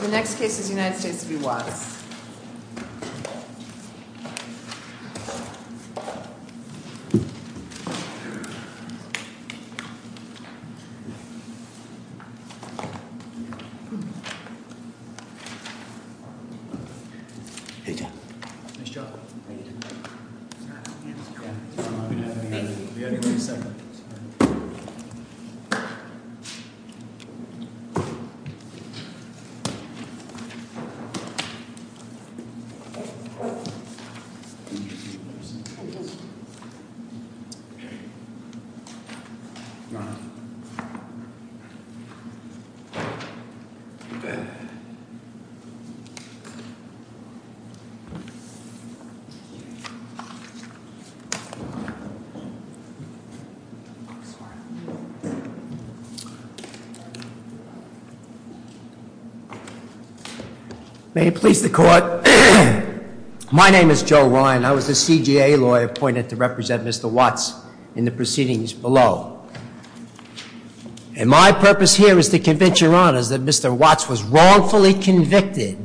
The next case is United States v. Watts. May it please the court. My name is Joe Ryan. I was the CGA lawyer appointed to represent Mr. Watts in the proceedings below. And my purpose here is to convince your honors that Mr. Watts was wrongfully convicted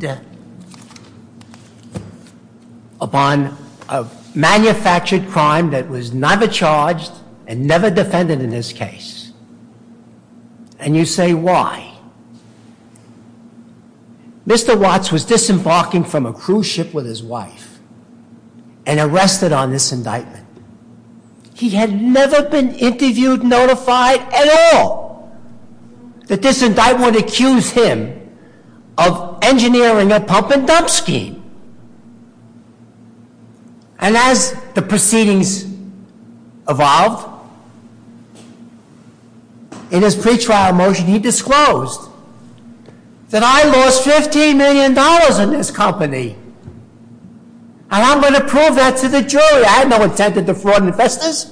upon a manufactured crime that was never charged and never defended in this case. And you say, why? Mr. Watts was disembarking from a cruise ship with his wife and arrested on this indictment. He had never been interviewed, notified at all that this indictment would accuse him of engineering a pump and dump scheme. And as the proceedings evolved, in his pretrial motion he disclosed that I lost $15 million in this company. And I'm going to prove that to the jury. I have no intent to defraud investors.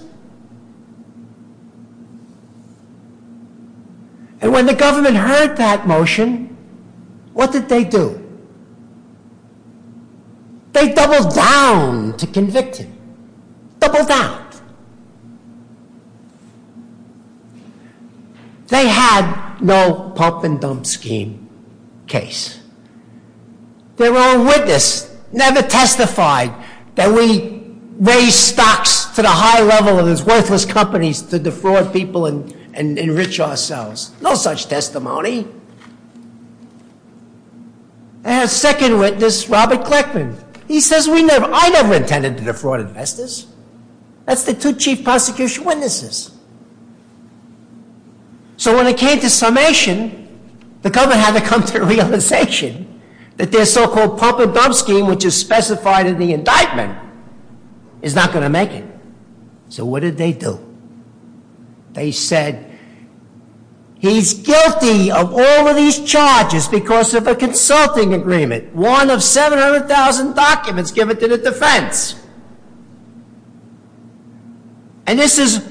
And when the government heard that motion, what did they do? They doubled down to convict him. Doubled down. They had no pump and dump scheme case. Their own witness never testified that we raised stocks to the high level of these worthless companies to defraud people and enrich ourselves. No such testimony. I have a second witness, Robert Clackman. He says, I never intended to defraud investors. That's the two chief prosecution witnesses. So when it came to summation, the government had to come to the realization that their so-called pump and dump scheme, which is specified in the indictment, is not going to make it. So what did they do? They said, he's guilty of all of these charges because of a consulting agreement, one of 700,000 documents given to the defense. And this is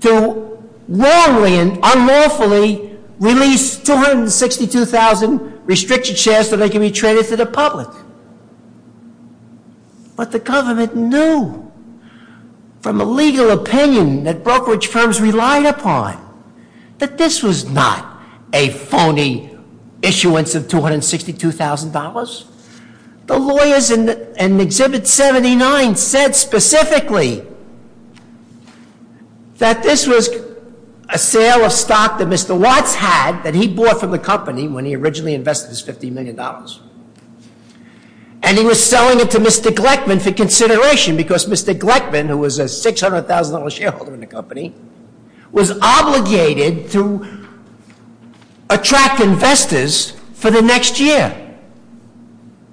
to wrongly and unlawfully release 262,000 restricted shares so they can be traded to the public. But the government knew from a legal opinion that brokerage firms relied upon that this was not a phony issuance of $262,000. The lawyers in Exhibit 79 said specifically that this was a sale of stock that Mr. Watts had that he bought from the company when he originally invested his $50 million. And he was selling it to Mr. Gleckman for consideration, because Mr. Gleckman, who was a $600,000 shareholder in the company, was obligated to attract investors for the next year.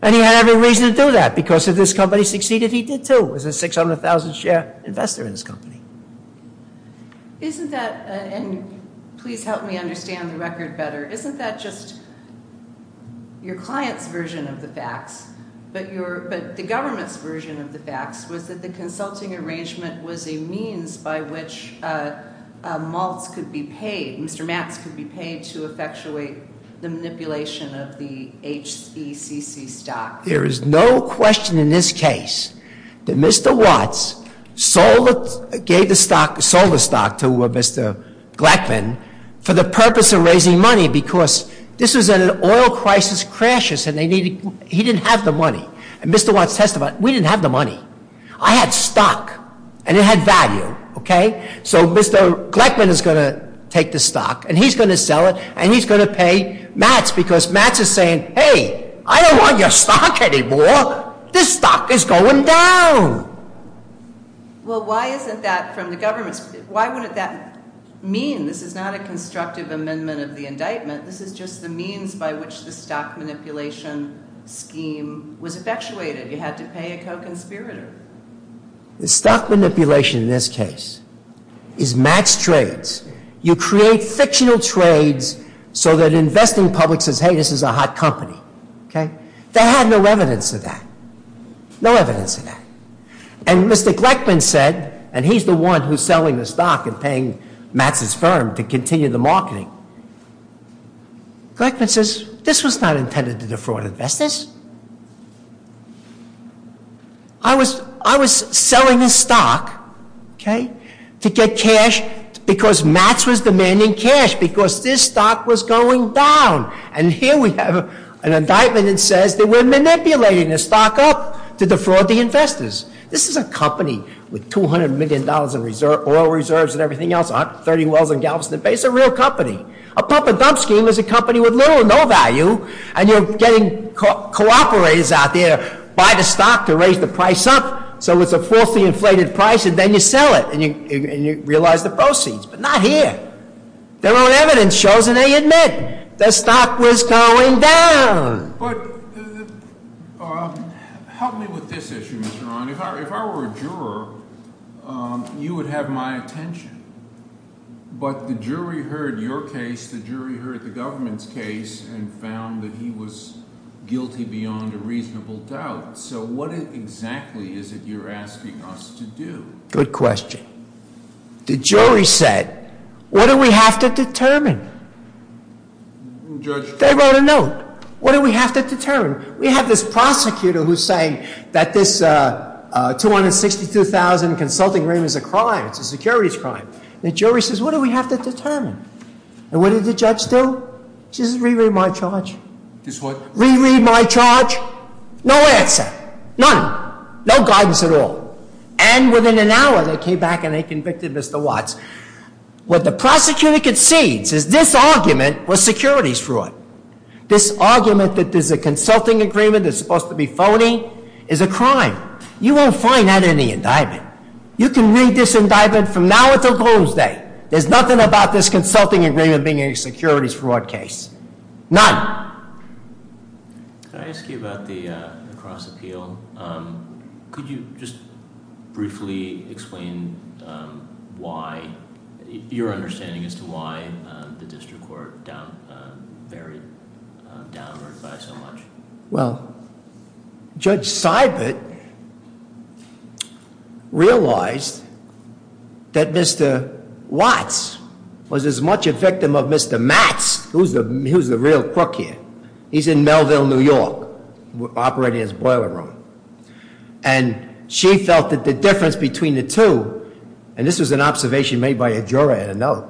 And he had every reason to do that, because if this company succeeded, he did too. He was a 600,000 share investor in this company. Isn't that, and please help me understand the record better, isn't that just your client's version of the facts, but the government's version of the facts was that the consulting arrangement was a means by which Mr. Max could be paid to effectuate the manipulation of the HECC stock? There is no question in this case that Mr. Watts sold the stock to Mr. Gleckman for the purpose of raising money, because this was in an oil crisis crisis and he didn't have the money. And Mr. Watts testified, we didn't have the money. I had stock, and it had value, okay? So Mr. Gleckman is going to take the stock, and he's going to sell it, and he's going to pay Max, because Max is saying, hey, I don't want your stock anymore. This stock is going down. Well, why isn't that from the government's, why wouldn't that mean, this is not a constructive amendment of the indictment. This is just the means by which the stock manipulation scheme was effectuated. You had to pay a co-conspirator. The stock manipulation in this case is Max Trades. You create fictional trades so that investing public says, hey, this is a hot company, okay? They had no evidence of that, no evidence of that. And Mr. Gleckman said, and he's the one who's selling the stock and paying Max's firm to continue the marketing. Gleckman says, this was not intended to defraud investors. I was selling the stock, okay, to get cash, because Max was demanding cash, because this stock was going down. And here we have an indictment that says that we're manipulating the stock up to defraud the investors. This is a company with $200 million in oil reserves and everything else, 130 wells and gallops in the base, a real company. A pump and dump scheme is a company with little or no value. And you're getting cooperators out there, buy the stock to raise the price up, so it's a falsely inflated price, and then you sell it, and you realize the proceeds. But not here. Their own evidence shows, and they admit, the stock was going down. But help me with this issue, Mr. Ron. If I were a juror, you would have my attention. But the jury heard your case, the jury heard the government's case, and found that he was guilty beyond a reasonable doubt. So what exactly is it you're asking us to do? Good question. The jury said, what do we have to determine? Judge- What do we have to determine? We have this prosecutor who's saying that this 262,000 consulting room is a crime, it's a securities crime. The jury says, what do we have to determine? And what did the judge do? She says, reread my charge. Reread my charge? No answer. None. No guidance at all. And within an hour, they came back and they convicted Mr. Watts. What the prosecutor concedes is this argument was securities fraud. This argument that there's a consulting agreement that's supposed to be phony is a crime. You won't find that in the indictment. You can read this indictment from now until Closed Day. There's nothing about this consulting agreement being a securities fraud case. None. Can I ask you about the cross appeal? Could you just briefly explain why, your understanding as to why the district court varied downward by so much? Well, Judge Seibert realized that Mr. Watts was as much a victim of Mr. Matz, who's the real crook here. He's in Melville, New York, operating his boiler room. And she felt that the difference between the two, and this was an observation made by a juror at a note,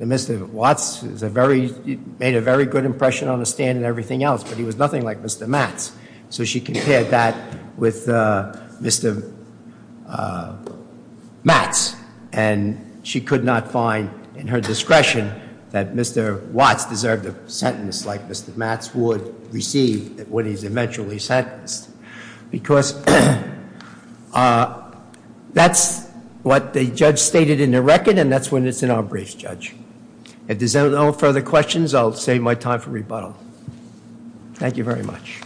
that Mr. Watts made a very good impression on the stand and everything else, but he was nothing like Mr. Matz. So she compared that with Mr. Matz. And she could not find in her discretion that Mr. Watts deserved a sentence like Mr. Matz would receive when he's eventually sentenced. Because that's what the judge stated in the record, and that's when it's in our briefs, Judge. If there's no further questions, I'll save my time for rebuttal. Thank you very much.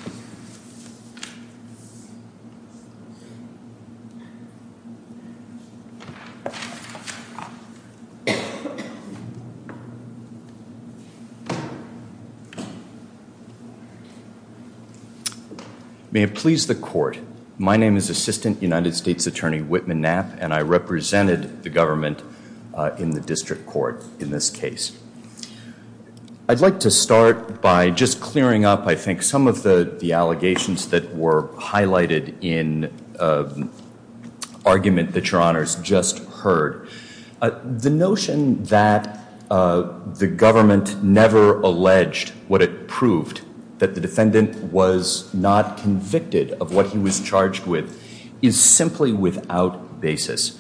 May it please the court. My name is Assistant United States Attorney Whitman Knapp, and I represented the government in the district court in this case. I'd like to start by just clearing up, I think, some of the allegations that were highlighted in an argument that Your Honors just heard. The notion that the government never alleged what it proved, that the defendant was not convicted of what he was charged with, is simply without basis.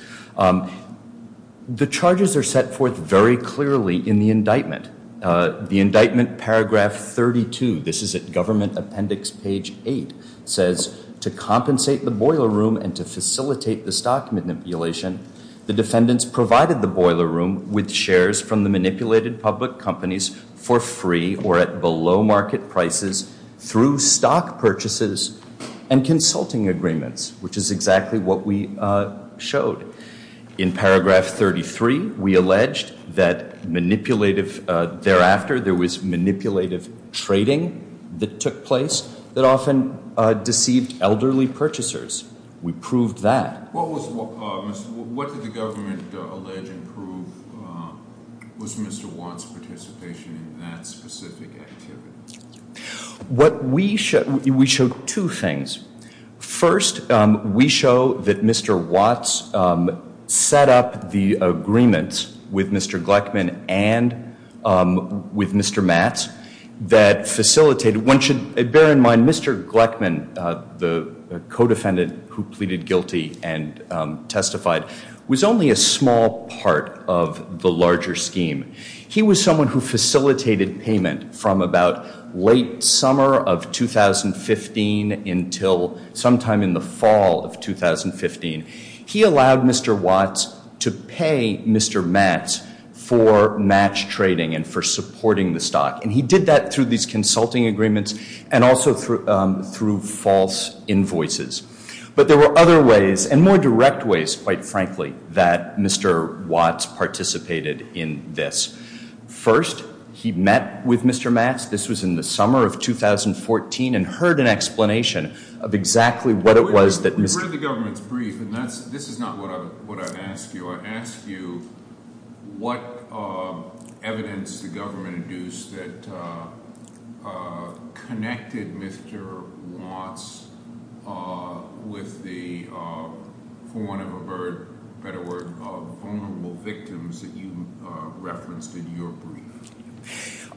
The charges are set forth very clearly in the indictment. The indictment, Paragraph 32, this is at Government Appendix Page 8, says, to compensate the boiler room and to facilitate the stock manipulation, the defendants provided the boiler room with shares from the manipulated public companies for free or at below market prices through stock purchases and consulting agreements, which is exactly what we showed. In Paragraph 33, we alleged that, thereafter, there was manipulative trading that took place that often deceived elderly purchasers. We proved that. What did the government allege and prove was Mr. Watts' participation in that specific activity? We showed two things. First, we show that Mr. Watts set up the agreements with Mr. Gleckman and with Mr. Matz that facilitated. One should bear in mind, Mr. Gleckman, the co-defendant who pleaded guilty and testified, was only a small part of the larger scheme. He was someone who facilitated payment from about late summer of 2015 until sometime in the fall of 2015. He allowed Mr. Watts to pay Mr. Matz for match trading and for supporting the stock. And he did that through these consulting agreements and also through false invoices. But there were other ways and more direct ways, quite frankly, that Mr. Watts participated in this. First, he met with Mr. Matz. This was in the summer of 2014 and heard an explanation of exactly what it was that Mr. This is the government's brief, and this is not what I'd ask you. I'd ask you what evidence the government induced that connected Mr. Watts with the, for want of a better word, vulnerable victims that you referenced in your brief.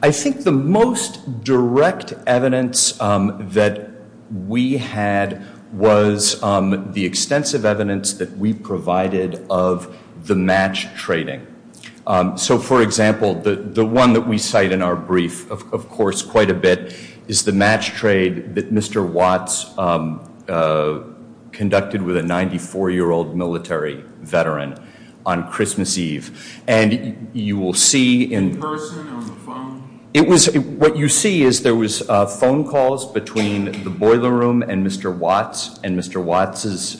I think the most direct evidence that we had was the extensive evidence that we provided of the match trading. So, for example, the one that we cite in our brief, of course, quite a bit is the match trade that Mr. Watts conducted with a 94-year-old military veteran on Christmas Eve. And you will see in person or on the phone. What you see is there was phone calls between the boiler room and Mr. Watts and Mr. Watts'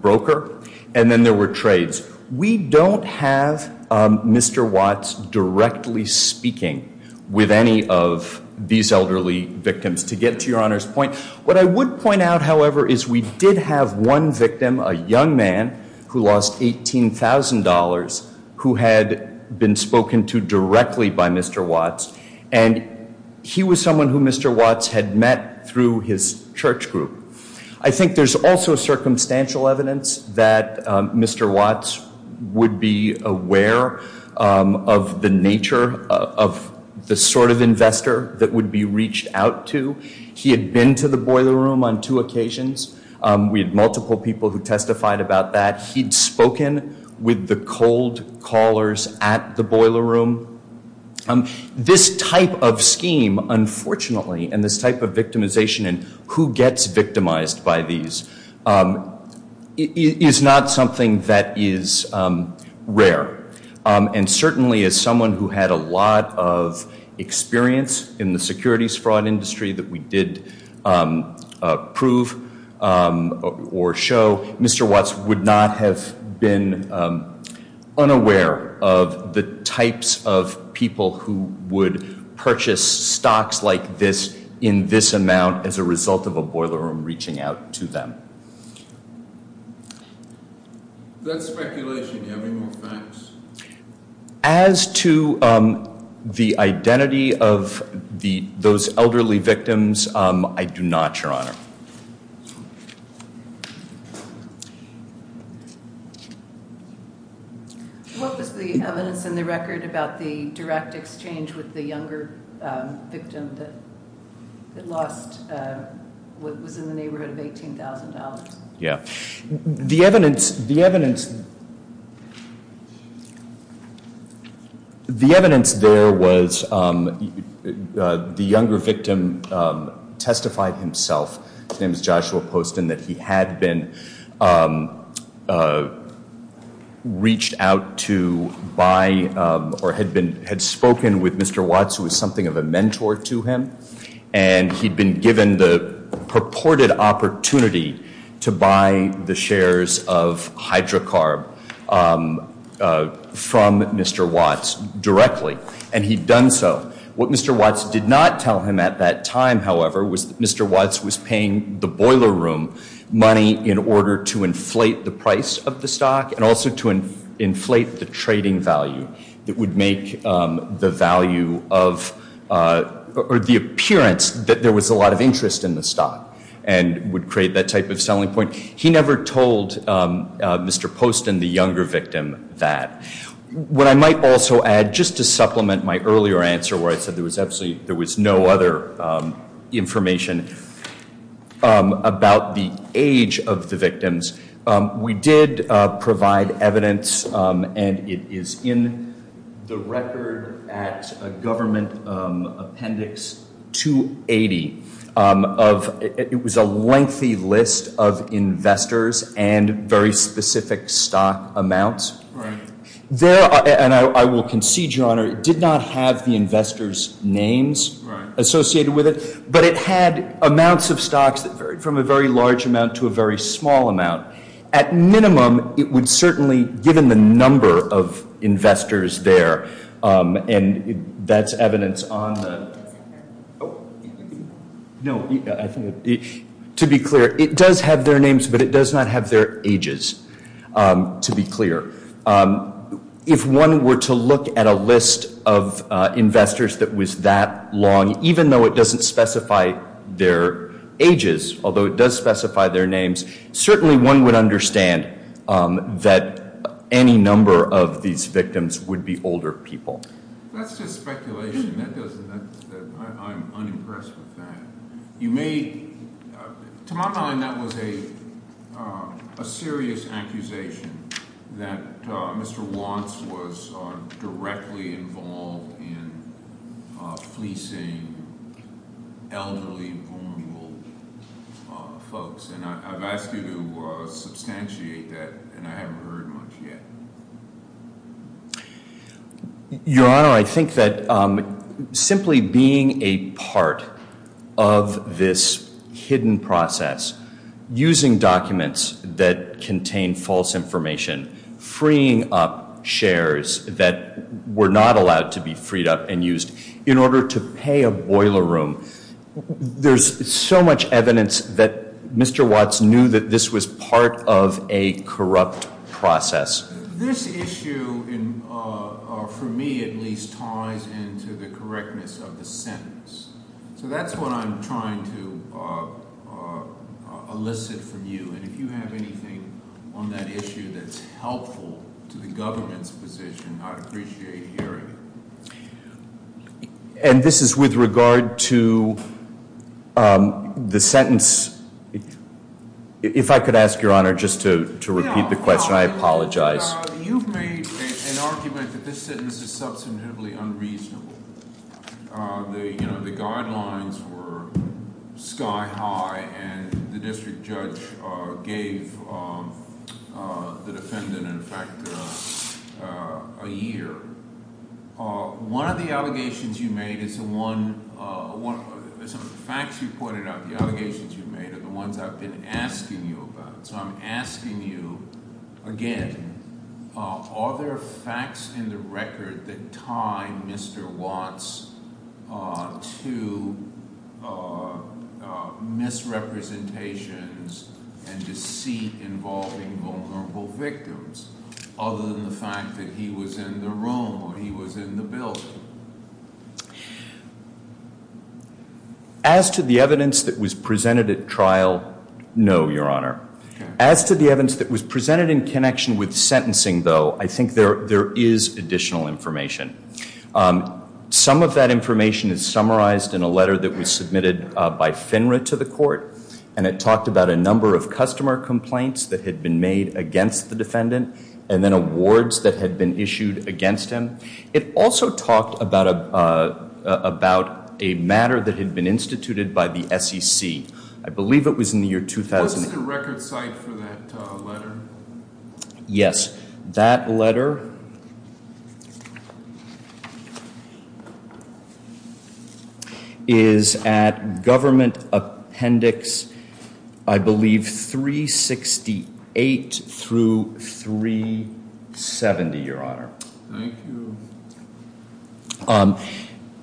broker. And then there were trades. We don't have Mr. Watts directly speaking with any of these elderly victims, to get to Your Honor's point. What I would point out, however, is we did have one victim, a young man who lost $18,000, who had been spoken to directly by Mr. Watts. And he was someone who Mr. Watts had met through his church group. I think there's also circumstantial evidence that Mr. Watts would be aware of the nature of the sort of investor that would be reached out to. He had been to the boiler room on two occasions. We had multiple people who testified about that. He'd spoken with the cold callers at the boiler room. This type of scheme, unfortunately, and this type of victimization and who gets victimized by these, is not something that is rare. And certainly, as someone who had a lot of experience in the securities fraud industry that we did prove or show, Mr. Watts would not have been unaware of the types of people who would purchase stocks like this in this amount as a result of a boiler room reaching out to them. That's speculation. Do you have any more facts? As to the identity of those elderly victims, I do not, Your Honor. What was the evidence in the record about the direct exchange with the younger victim that lost what was in the neighborhood of $18,000? The evidence there was the younger victim testified himself. His name is Joshua Poston, that he had been reached out to by or had spoken with Mr. Watts who was something of a mentor to him. And he'd been given the purported opportunity to buy the shares of Hydrocarb from Mr. Watts directly, and he'd done so. What Mr. Watts did not tell him at that time, however, was that Mr. Watts was paying the boiler room money in order to inflate the price of the stock and also to inflate the trading value. It would make the value of or the appearance that there was a lot of interest in the stock and would create that type of selling point. He never told Mr. Poston, the younger victim, that. What I might also add, just to supplement my earlier answer where I said there was absolutely there was no other information about the age of the victims. We did provide evidence, and it is in the record at Government Appendix 280. It was a lengthy list of investors and very specific stock amounts. And I will concede, Your Honor, it did not have the investors' names associated with it. But it had amounts of stocks from a very large amount to a very small amount. At minimum, it would certainly, given the number of investors there, and that's evidence on the- No, I think it- To be clear, it does have their names, but it does not have their ages, to be clear. If one were to look at a list of investors that was that long, even though it doesn't specify their ages, although it does specify their names, certainly one would understand that any number of these victims would be older people. That's just speculation. That doesn't- I'm unimpressed with that. To my mind, that was a serious accusation that Mr. Wants was directly involved in fleecing elderly, vulnerable folks. And I've asked you to substantiate that, and I haven't heard much yet. Your Honor, I think that simply being a part of this hidden process, using documents that contain false information, freeing up shares that were not allowed to be freed up and used in order to pay a boiler room, there's so much evidence that Mr. Watts knew that this was part of a corrupt process. This issue, for me at least, ties into the correctness of the sentence. So that's what I'm trying to elicit from you. And if you have anything on that issue that's helpful to the government's position, I'd appreciate hearing it. And this is with regard to the sentence. If I could ask, Your Honor, just to repeat the question. I apologize. You've made an argument that this sentence is substantively unreasonable. The guidelines were sky high, and the district judge gave the defendant, in fact, a year. One of the allegations you made is the one... some of the facts you pointed out, the allegations you made, are the ones I've been asking you about. So I'm asking you again, are there facts in the record that tie Mr. Watts to misrepresentations and deceit involving vulnerable victims, other than the fact that he was in the room or he was in the building? As to the evidence that was presented at trial, no, Your Honor. As to the evidence that was presented in connection with sentencing, though, I think there is additional information. Some of that information is summarized in a letter that was submitted by FINRA to the court, and it talked about a number of customer complaints that had been made against the defendant, and then awards that had been issued against him. It also talked about a matter that had been instituted by the SEC. I believe it was in the year... What's the record site for that letter? Yes. That letter is at Government Appendix, I believe, 368 through 370, Your Honor. Thank you.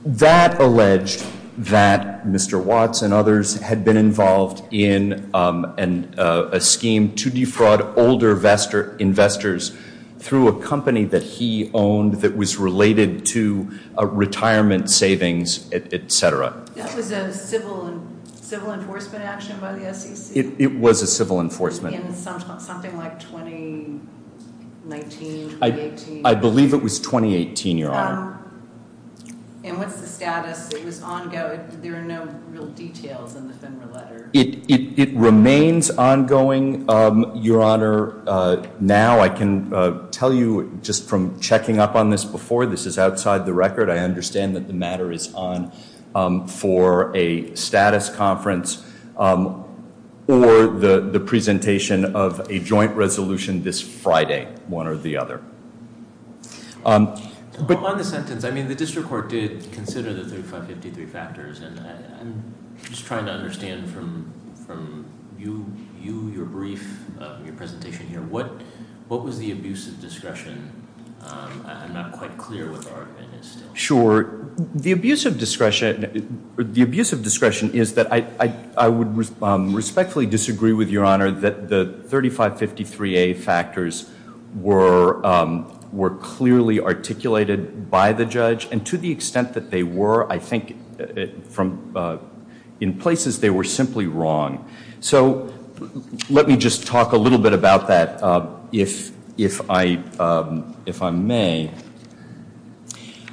That alleged that Mr. Watts and others had been involved in a scheme to defraud older investors through a company that he owned that was related to retirement savings, et cetera. That was a civil enforcement action by the SEC? It was a civil enforcement. In something like 2019, 2018? I believe it was 2018, Your Honor. And what's the status? It was ongoing. There are no real details in the FINRA letter. It remains ongoing, Your Honor. Now I can tell you just from checking up on this before, this is outside the record. I understand that the matter is on for a status conference or the presentation of a joint resolution this Friday, one or the other. On the sentence, I mean, the district court did consider the 3553 factors, and I'm just trying to understand from you, your brief, your presentation here, what was the abuse of discretion? I'm not quite clear what the argument is still. Sure. The abuse of discretion is that I would respectfully disagree with Your Honor that the 3553A factors were clearly articulated by the judge, and to the extent that they were, I think in places they were simply wrong. So let me just talk a little bit about that if I may.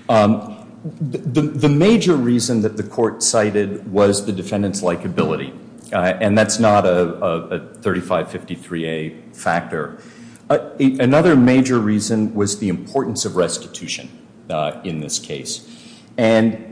The major reason that the court cited was the defendant's likability, and that's not a 3553A factor. Another major reason was the importance of restitution in this case. And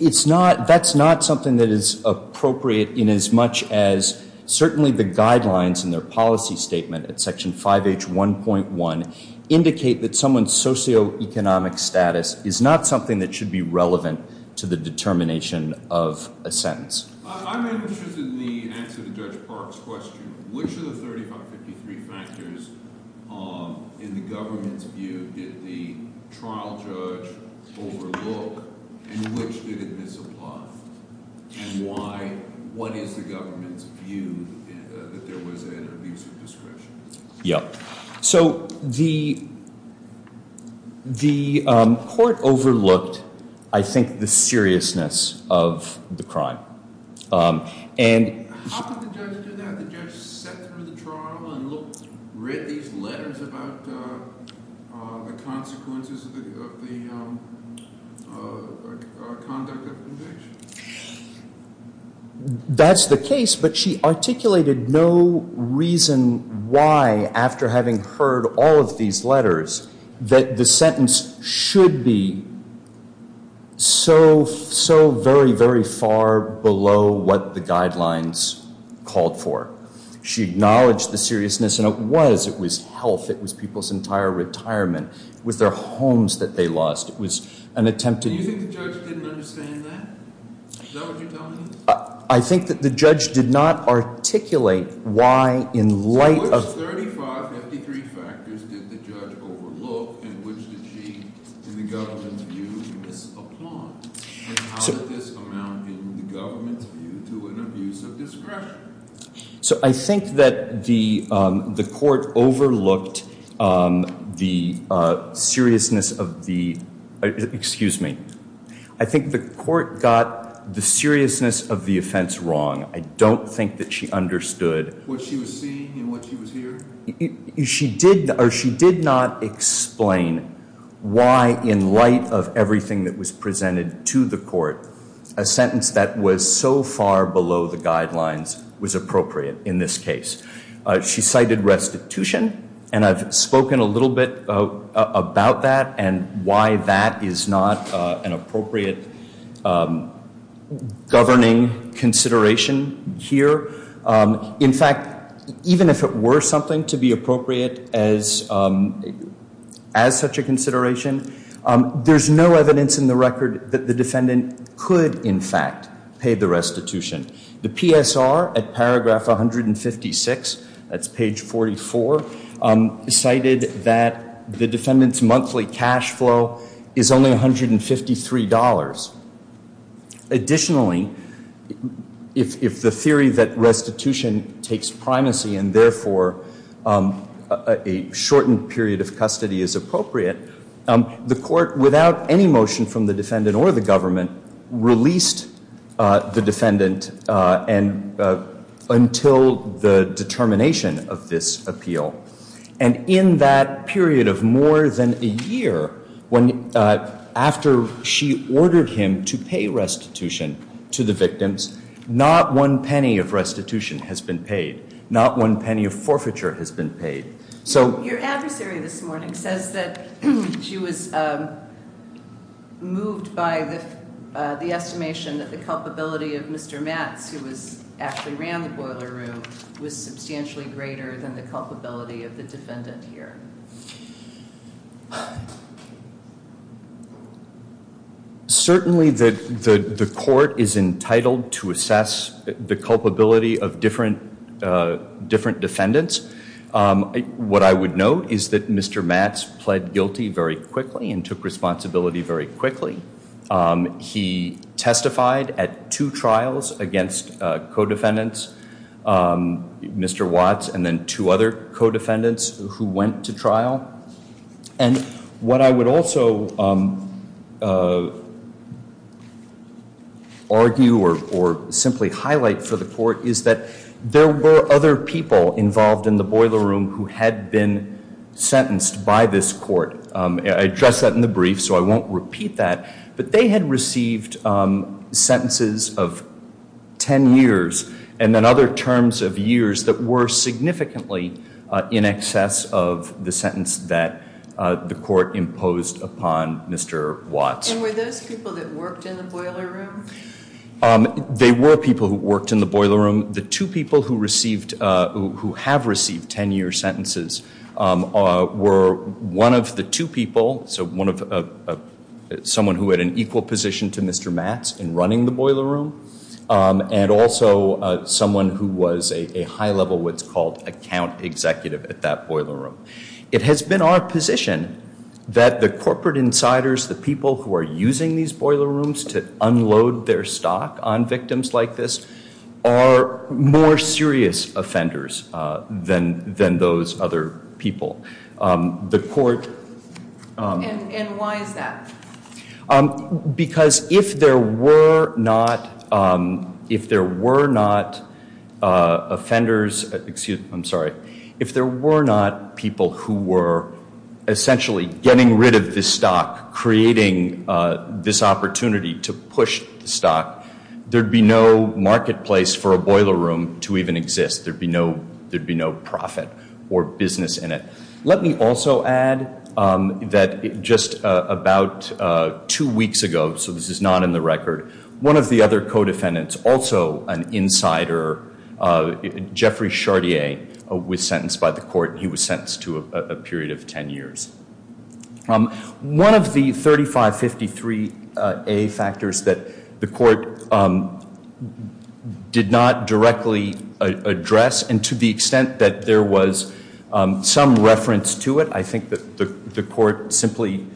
that's not something that is appropriate in as much as certainly the guidelines in their policy statement at Section 5H1.1 indicate that someone's socioeconomic status is not something that should be relevant to the determination of a sentence. I'm interested in the answer to Judge Park's question. Which of the 3553 factors in the government's view did the trial judge overlook, and which did it misapply, and what is the government's view that there was an abuse of discretion? Yeah. So the court overlooked, I think, the seriousness of the crime. How could the judge do that? The judge sat through the trial and read these letters about the consequences of the conduct of conviction? That's the case, but she articulated no reason why, after having heard all of these letters, that the sentence should be so very, very far below what the guidelines called for. She acknowledged the seriousness, and it was. It was health. It was people's entire retirement. It was their homes that they lost. It was an attempt to— Do you think the judge didn't understand that? Is that what you're telling me? I think that the judge did not articulate why, in light of— Which of the 3553 factors did the judge overlook, and which did she, in the government's view, misapply, and how did this amount, in the government's view, to an abuse of discretion? So I think that the court overlooked the seriousness of the—excuse me. I think the court got the seriousness of the offense wrong. I don't think that she understood— She did not explain why, in light of everything that was presented to the court, a sentence that was so far below the guidelines was appropriate in this case. She cited restitution, and I've spoken a little bit about that and why that is not an appropriate governing consideration here. In fact, even if it were something to be appropriate as such a consideration, there's no evidence in the record that the defendant could, in fact, pay the restitution. The PSR at paragraph 156, that's page 44, cited that the defendant's monthly cash flow is only $153. Additionally, if the theory that restitution takes primacy and therefore a shortened period of custody is appropriate, the court, without any motion from the defendant or the government, released the defendant until the determination of this appeal. And in that period of more than a year, after she ordered him to pay restitution to the victims, not one penny of restitution has been paid. Not one penny of forfeiture has been paid. Your adversary this morning says that she was moved by the estimation that the culpability of Mr. Matz, who actually ran the boiler room, was substantially greater than the culpability of the defendant here. Certainly the court is entitled to assess the culpability of different defendants. What I would note is that Mr. Matz pled guilty very quickly and took responsibility very quickly. He testified at two trials against co-defendants, Mr. Watz, and then two other co-defendants who went to trial. And what I would also argue or simply highlight for the court is that there were other people involved in the boiler room who had been sentenced by this court. I addressed that in the brief, so I won't repeat that. But they had received sentences of 10 years and then other terms of years that were significantly in excess of the sentence that the court imposed upon Mr. Watz. And were those people that worked in the boiler room? They were people who worked in the boiler room. The two people who have received 10-year sentences were one of the two people, so someone who had an equal position to Mr. Matz in running the boiler room, and also someone who was a high-level what's called account executive at that boiler room. It has been our position that the corporate insiders, the people who are using these boiler rooms to unload their stock on victims like this, are more serious offenders than those other people. The court— And why is that? Because if there were not offenders—excuse me, I'm sorry. If there were not people who were essentially getting rid of this stock, creating this opportunity to push the stock, there would be no marketplace for a boiler room to even exist. There would be no profit or business in it. Let me also add that just about two weeks ago, so this is not in the record, one of the other co-defendants, also an insider, Jeffrey Chartier, was sentenced by the court. He was sentenced to a period of 10 years. One of the 3553A factors that the court did not directly address, and to the extent that there was some reference to it, I think that the court simply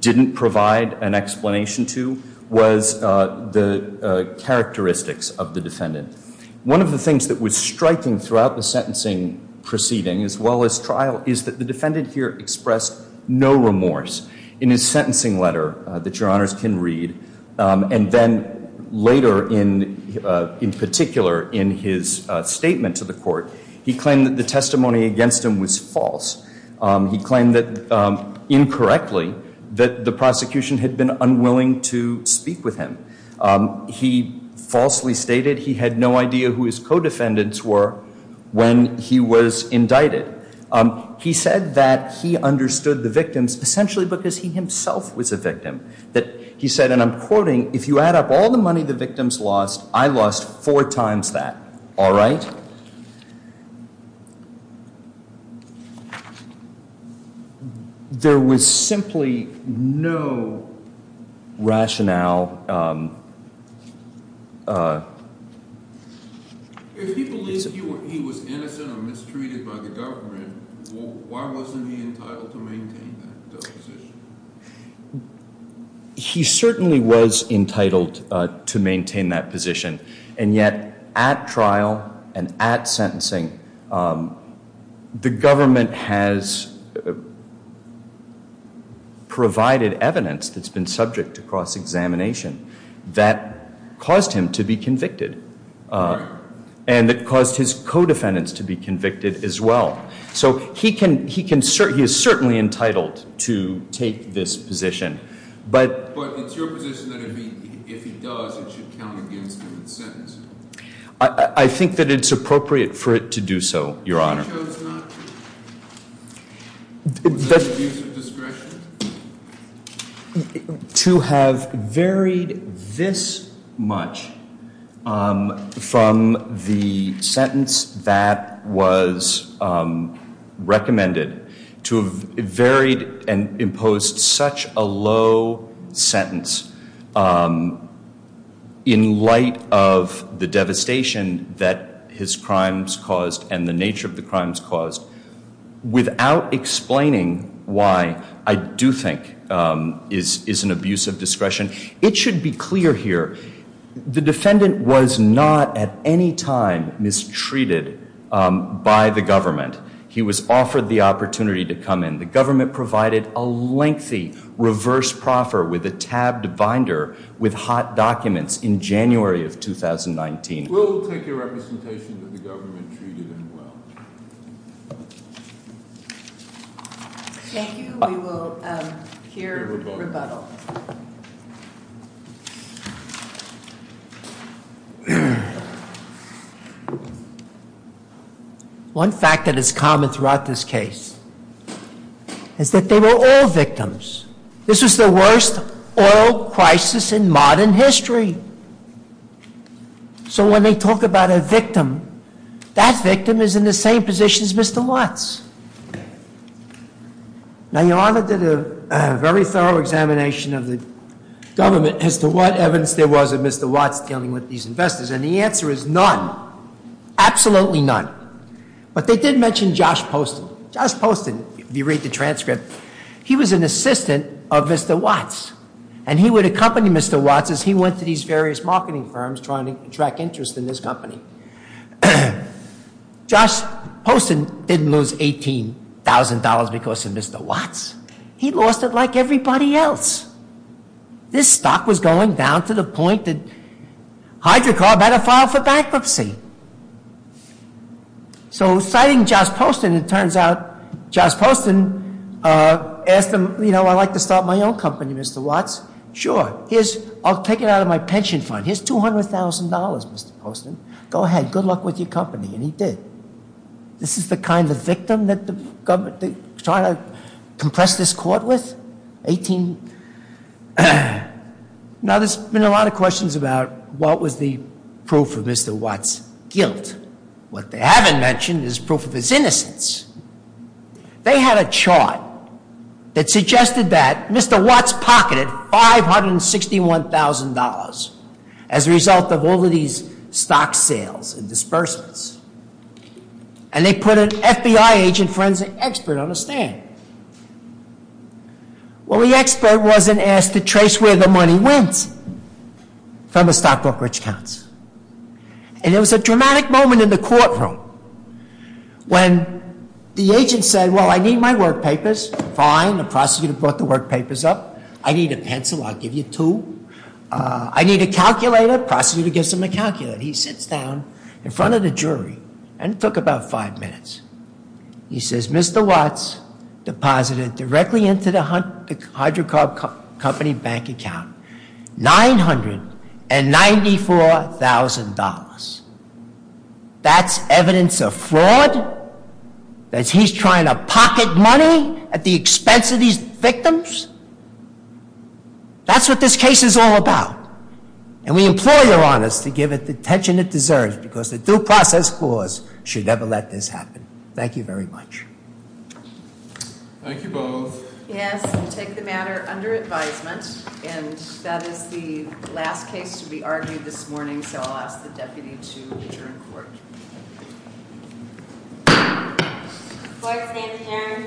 didn't provide an explanation to, was the characteristics of the defendant. One of the things that was striking throughout the sentencing proceeding, as well as trial, is that the defendant here expressed no remorse in his sentencing letter that Your Honors can read. And then later, in particular, in his statement to the court, he claimed that the testimony against him was false. He claimed that, incorrectly, that the prosecution had been unwilling to speak with him. He falsely stated he had no idea who his co-defendants were when he was indicted. He said that he understood the victims essentially because he himself was a victim. He said, and I'm quoting, if you add up all the money the victims lost, I lost four times that. All right? There was simply no rationale. If he believed he was innocent or mistreated by the government, why wasn't he entitled to maintain that position? He certainly was entitled to maintain that position. And yet, at trial and at sentencing, the government has provided evidence that's been subject to cross-examination that caused him to be convicted. And it caused his co-defendants to be convicted as well. So he is certainly entitled to take this position. But it's your position that if he does, it should count against him at sentencing? I think that it's appropriate for it to do so, Your Honor. He chose not to? Was that an abuse of discretion? To have varied this much from the sentence that was recommended, to have varied and imposed such a low sentence in light of the devastation that his crimes caused and the nature of the crimes caused, without explaining why I do think is an abuse of discretion. It should be clear here, the defendant was not at any time mistreated by the government. He was offered the opportunity to come in. The government provided a lengthy reverse proffer with a tabbed binder with hot documents in January of 2019. We'll take your representation that the government treated him well. Thank you, we will hear rebuttal. One fact that is common throughout this case is that they were all victims. This was the worst oil crisis in modern history. When they talk about a victim, that victim is in the same position as Mr. Watts. Now, Your Honor did a very thorough examination of the government as to what evidence there was of Mr. Watts dealing with these investors. And the answer is none, absolutely none. But they did mention Josh Poston. Josh Poston, if you read the transcript, he was an assistant of Mr. Watts. And he would accompany Mr. Watts as he went to these various marketing firms trying to attract interest in this company. Josh Poston didn't lose $18,000 because of Mr. Watts. He lost it like everybody else. This stock was going down to the point that Hydrocarb had to file for bankruptcy. So citing Josh Poston, it turns out Josh Poston asked him, I'd like to start my own company, Mr. Watts. Sure, I'll take it out of my pension fund. Here's $200,000, Mr. Poston. Go ahead, good luck with your company. And he did. This is the kind of victim that the government was trying to compress this court with? Now, there's been a lot of questions about what was the proof of Mr. Watts' guilt. What they haven't mentioned is proof of his innocence. They had a chart that suggested that Mr. Watts pocketed $561,000 as a result of all of these stock sales and disbursements. And they put an FBI agent forensic expert on the stand. Well, the expert wasn't asked to trace where the money went from the stock brokerage accounts. And there was a dramatic moment in the courtroom when the agent said, well, I need my work papers. Fine, the prosecutor brought the work papers up. I need a pencil, I'll give you two. I need a calculator. Prosecutor gives him a calculator. He sits down in front of the jury, and it took about five minutes. He says, Mr. Watts deposited directly into the hydrocarbon company bank account $994,000. That's evidence of fraud? That he's trying to pocket money at the expense of these victims? That's what this case is all about. And we implore your honors to give it the attention it deserves, because the due process clause should never let this happen. Thank you very much. Thank you both. Yes, we take the matter under advisement. And that is the last case to be argued this morning, so I'll ask the deputy to adjourn court. The court's name is Aaron. Thank you.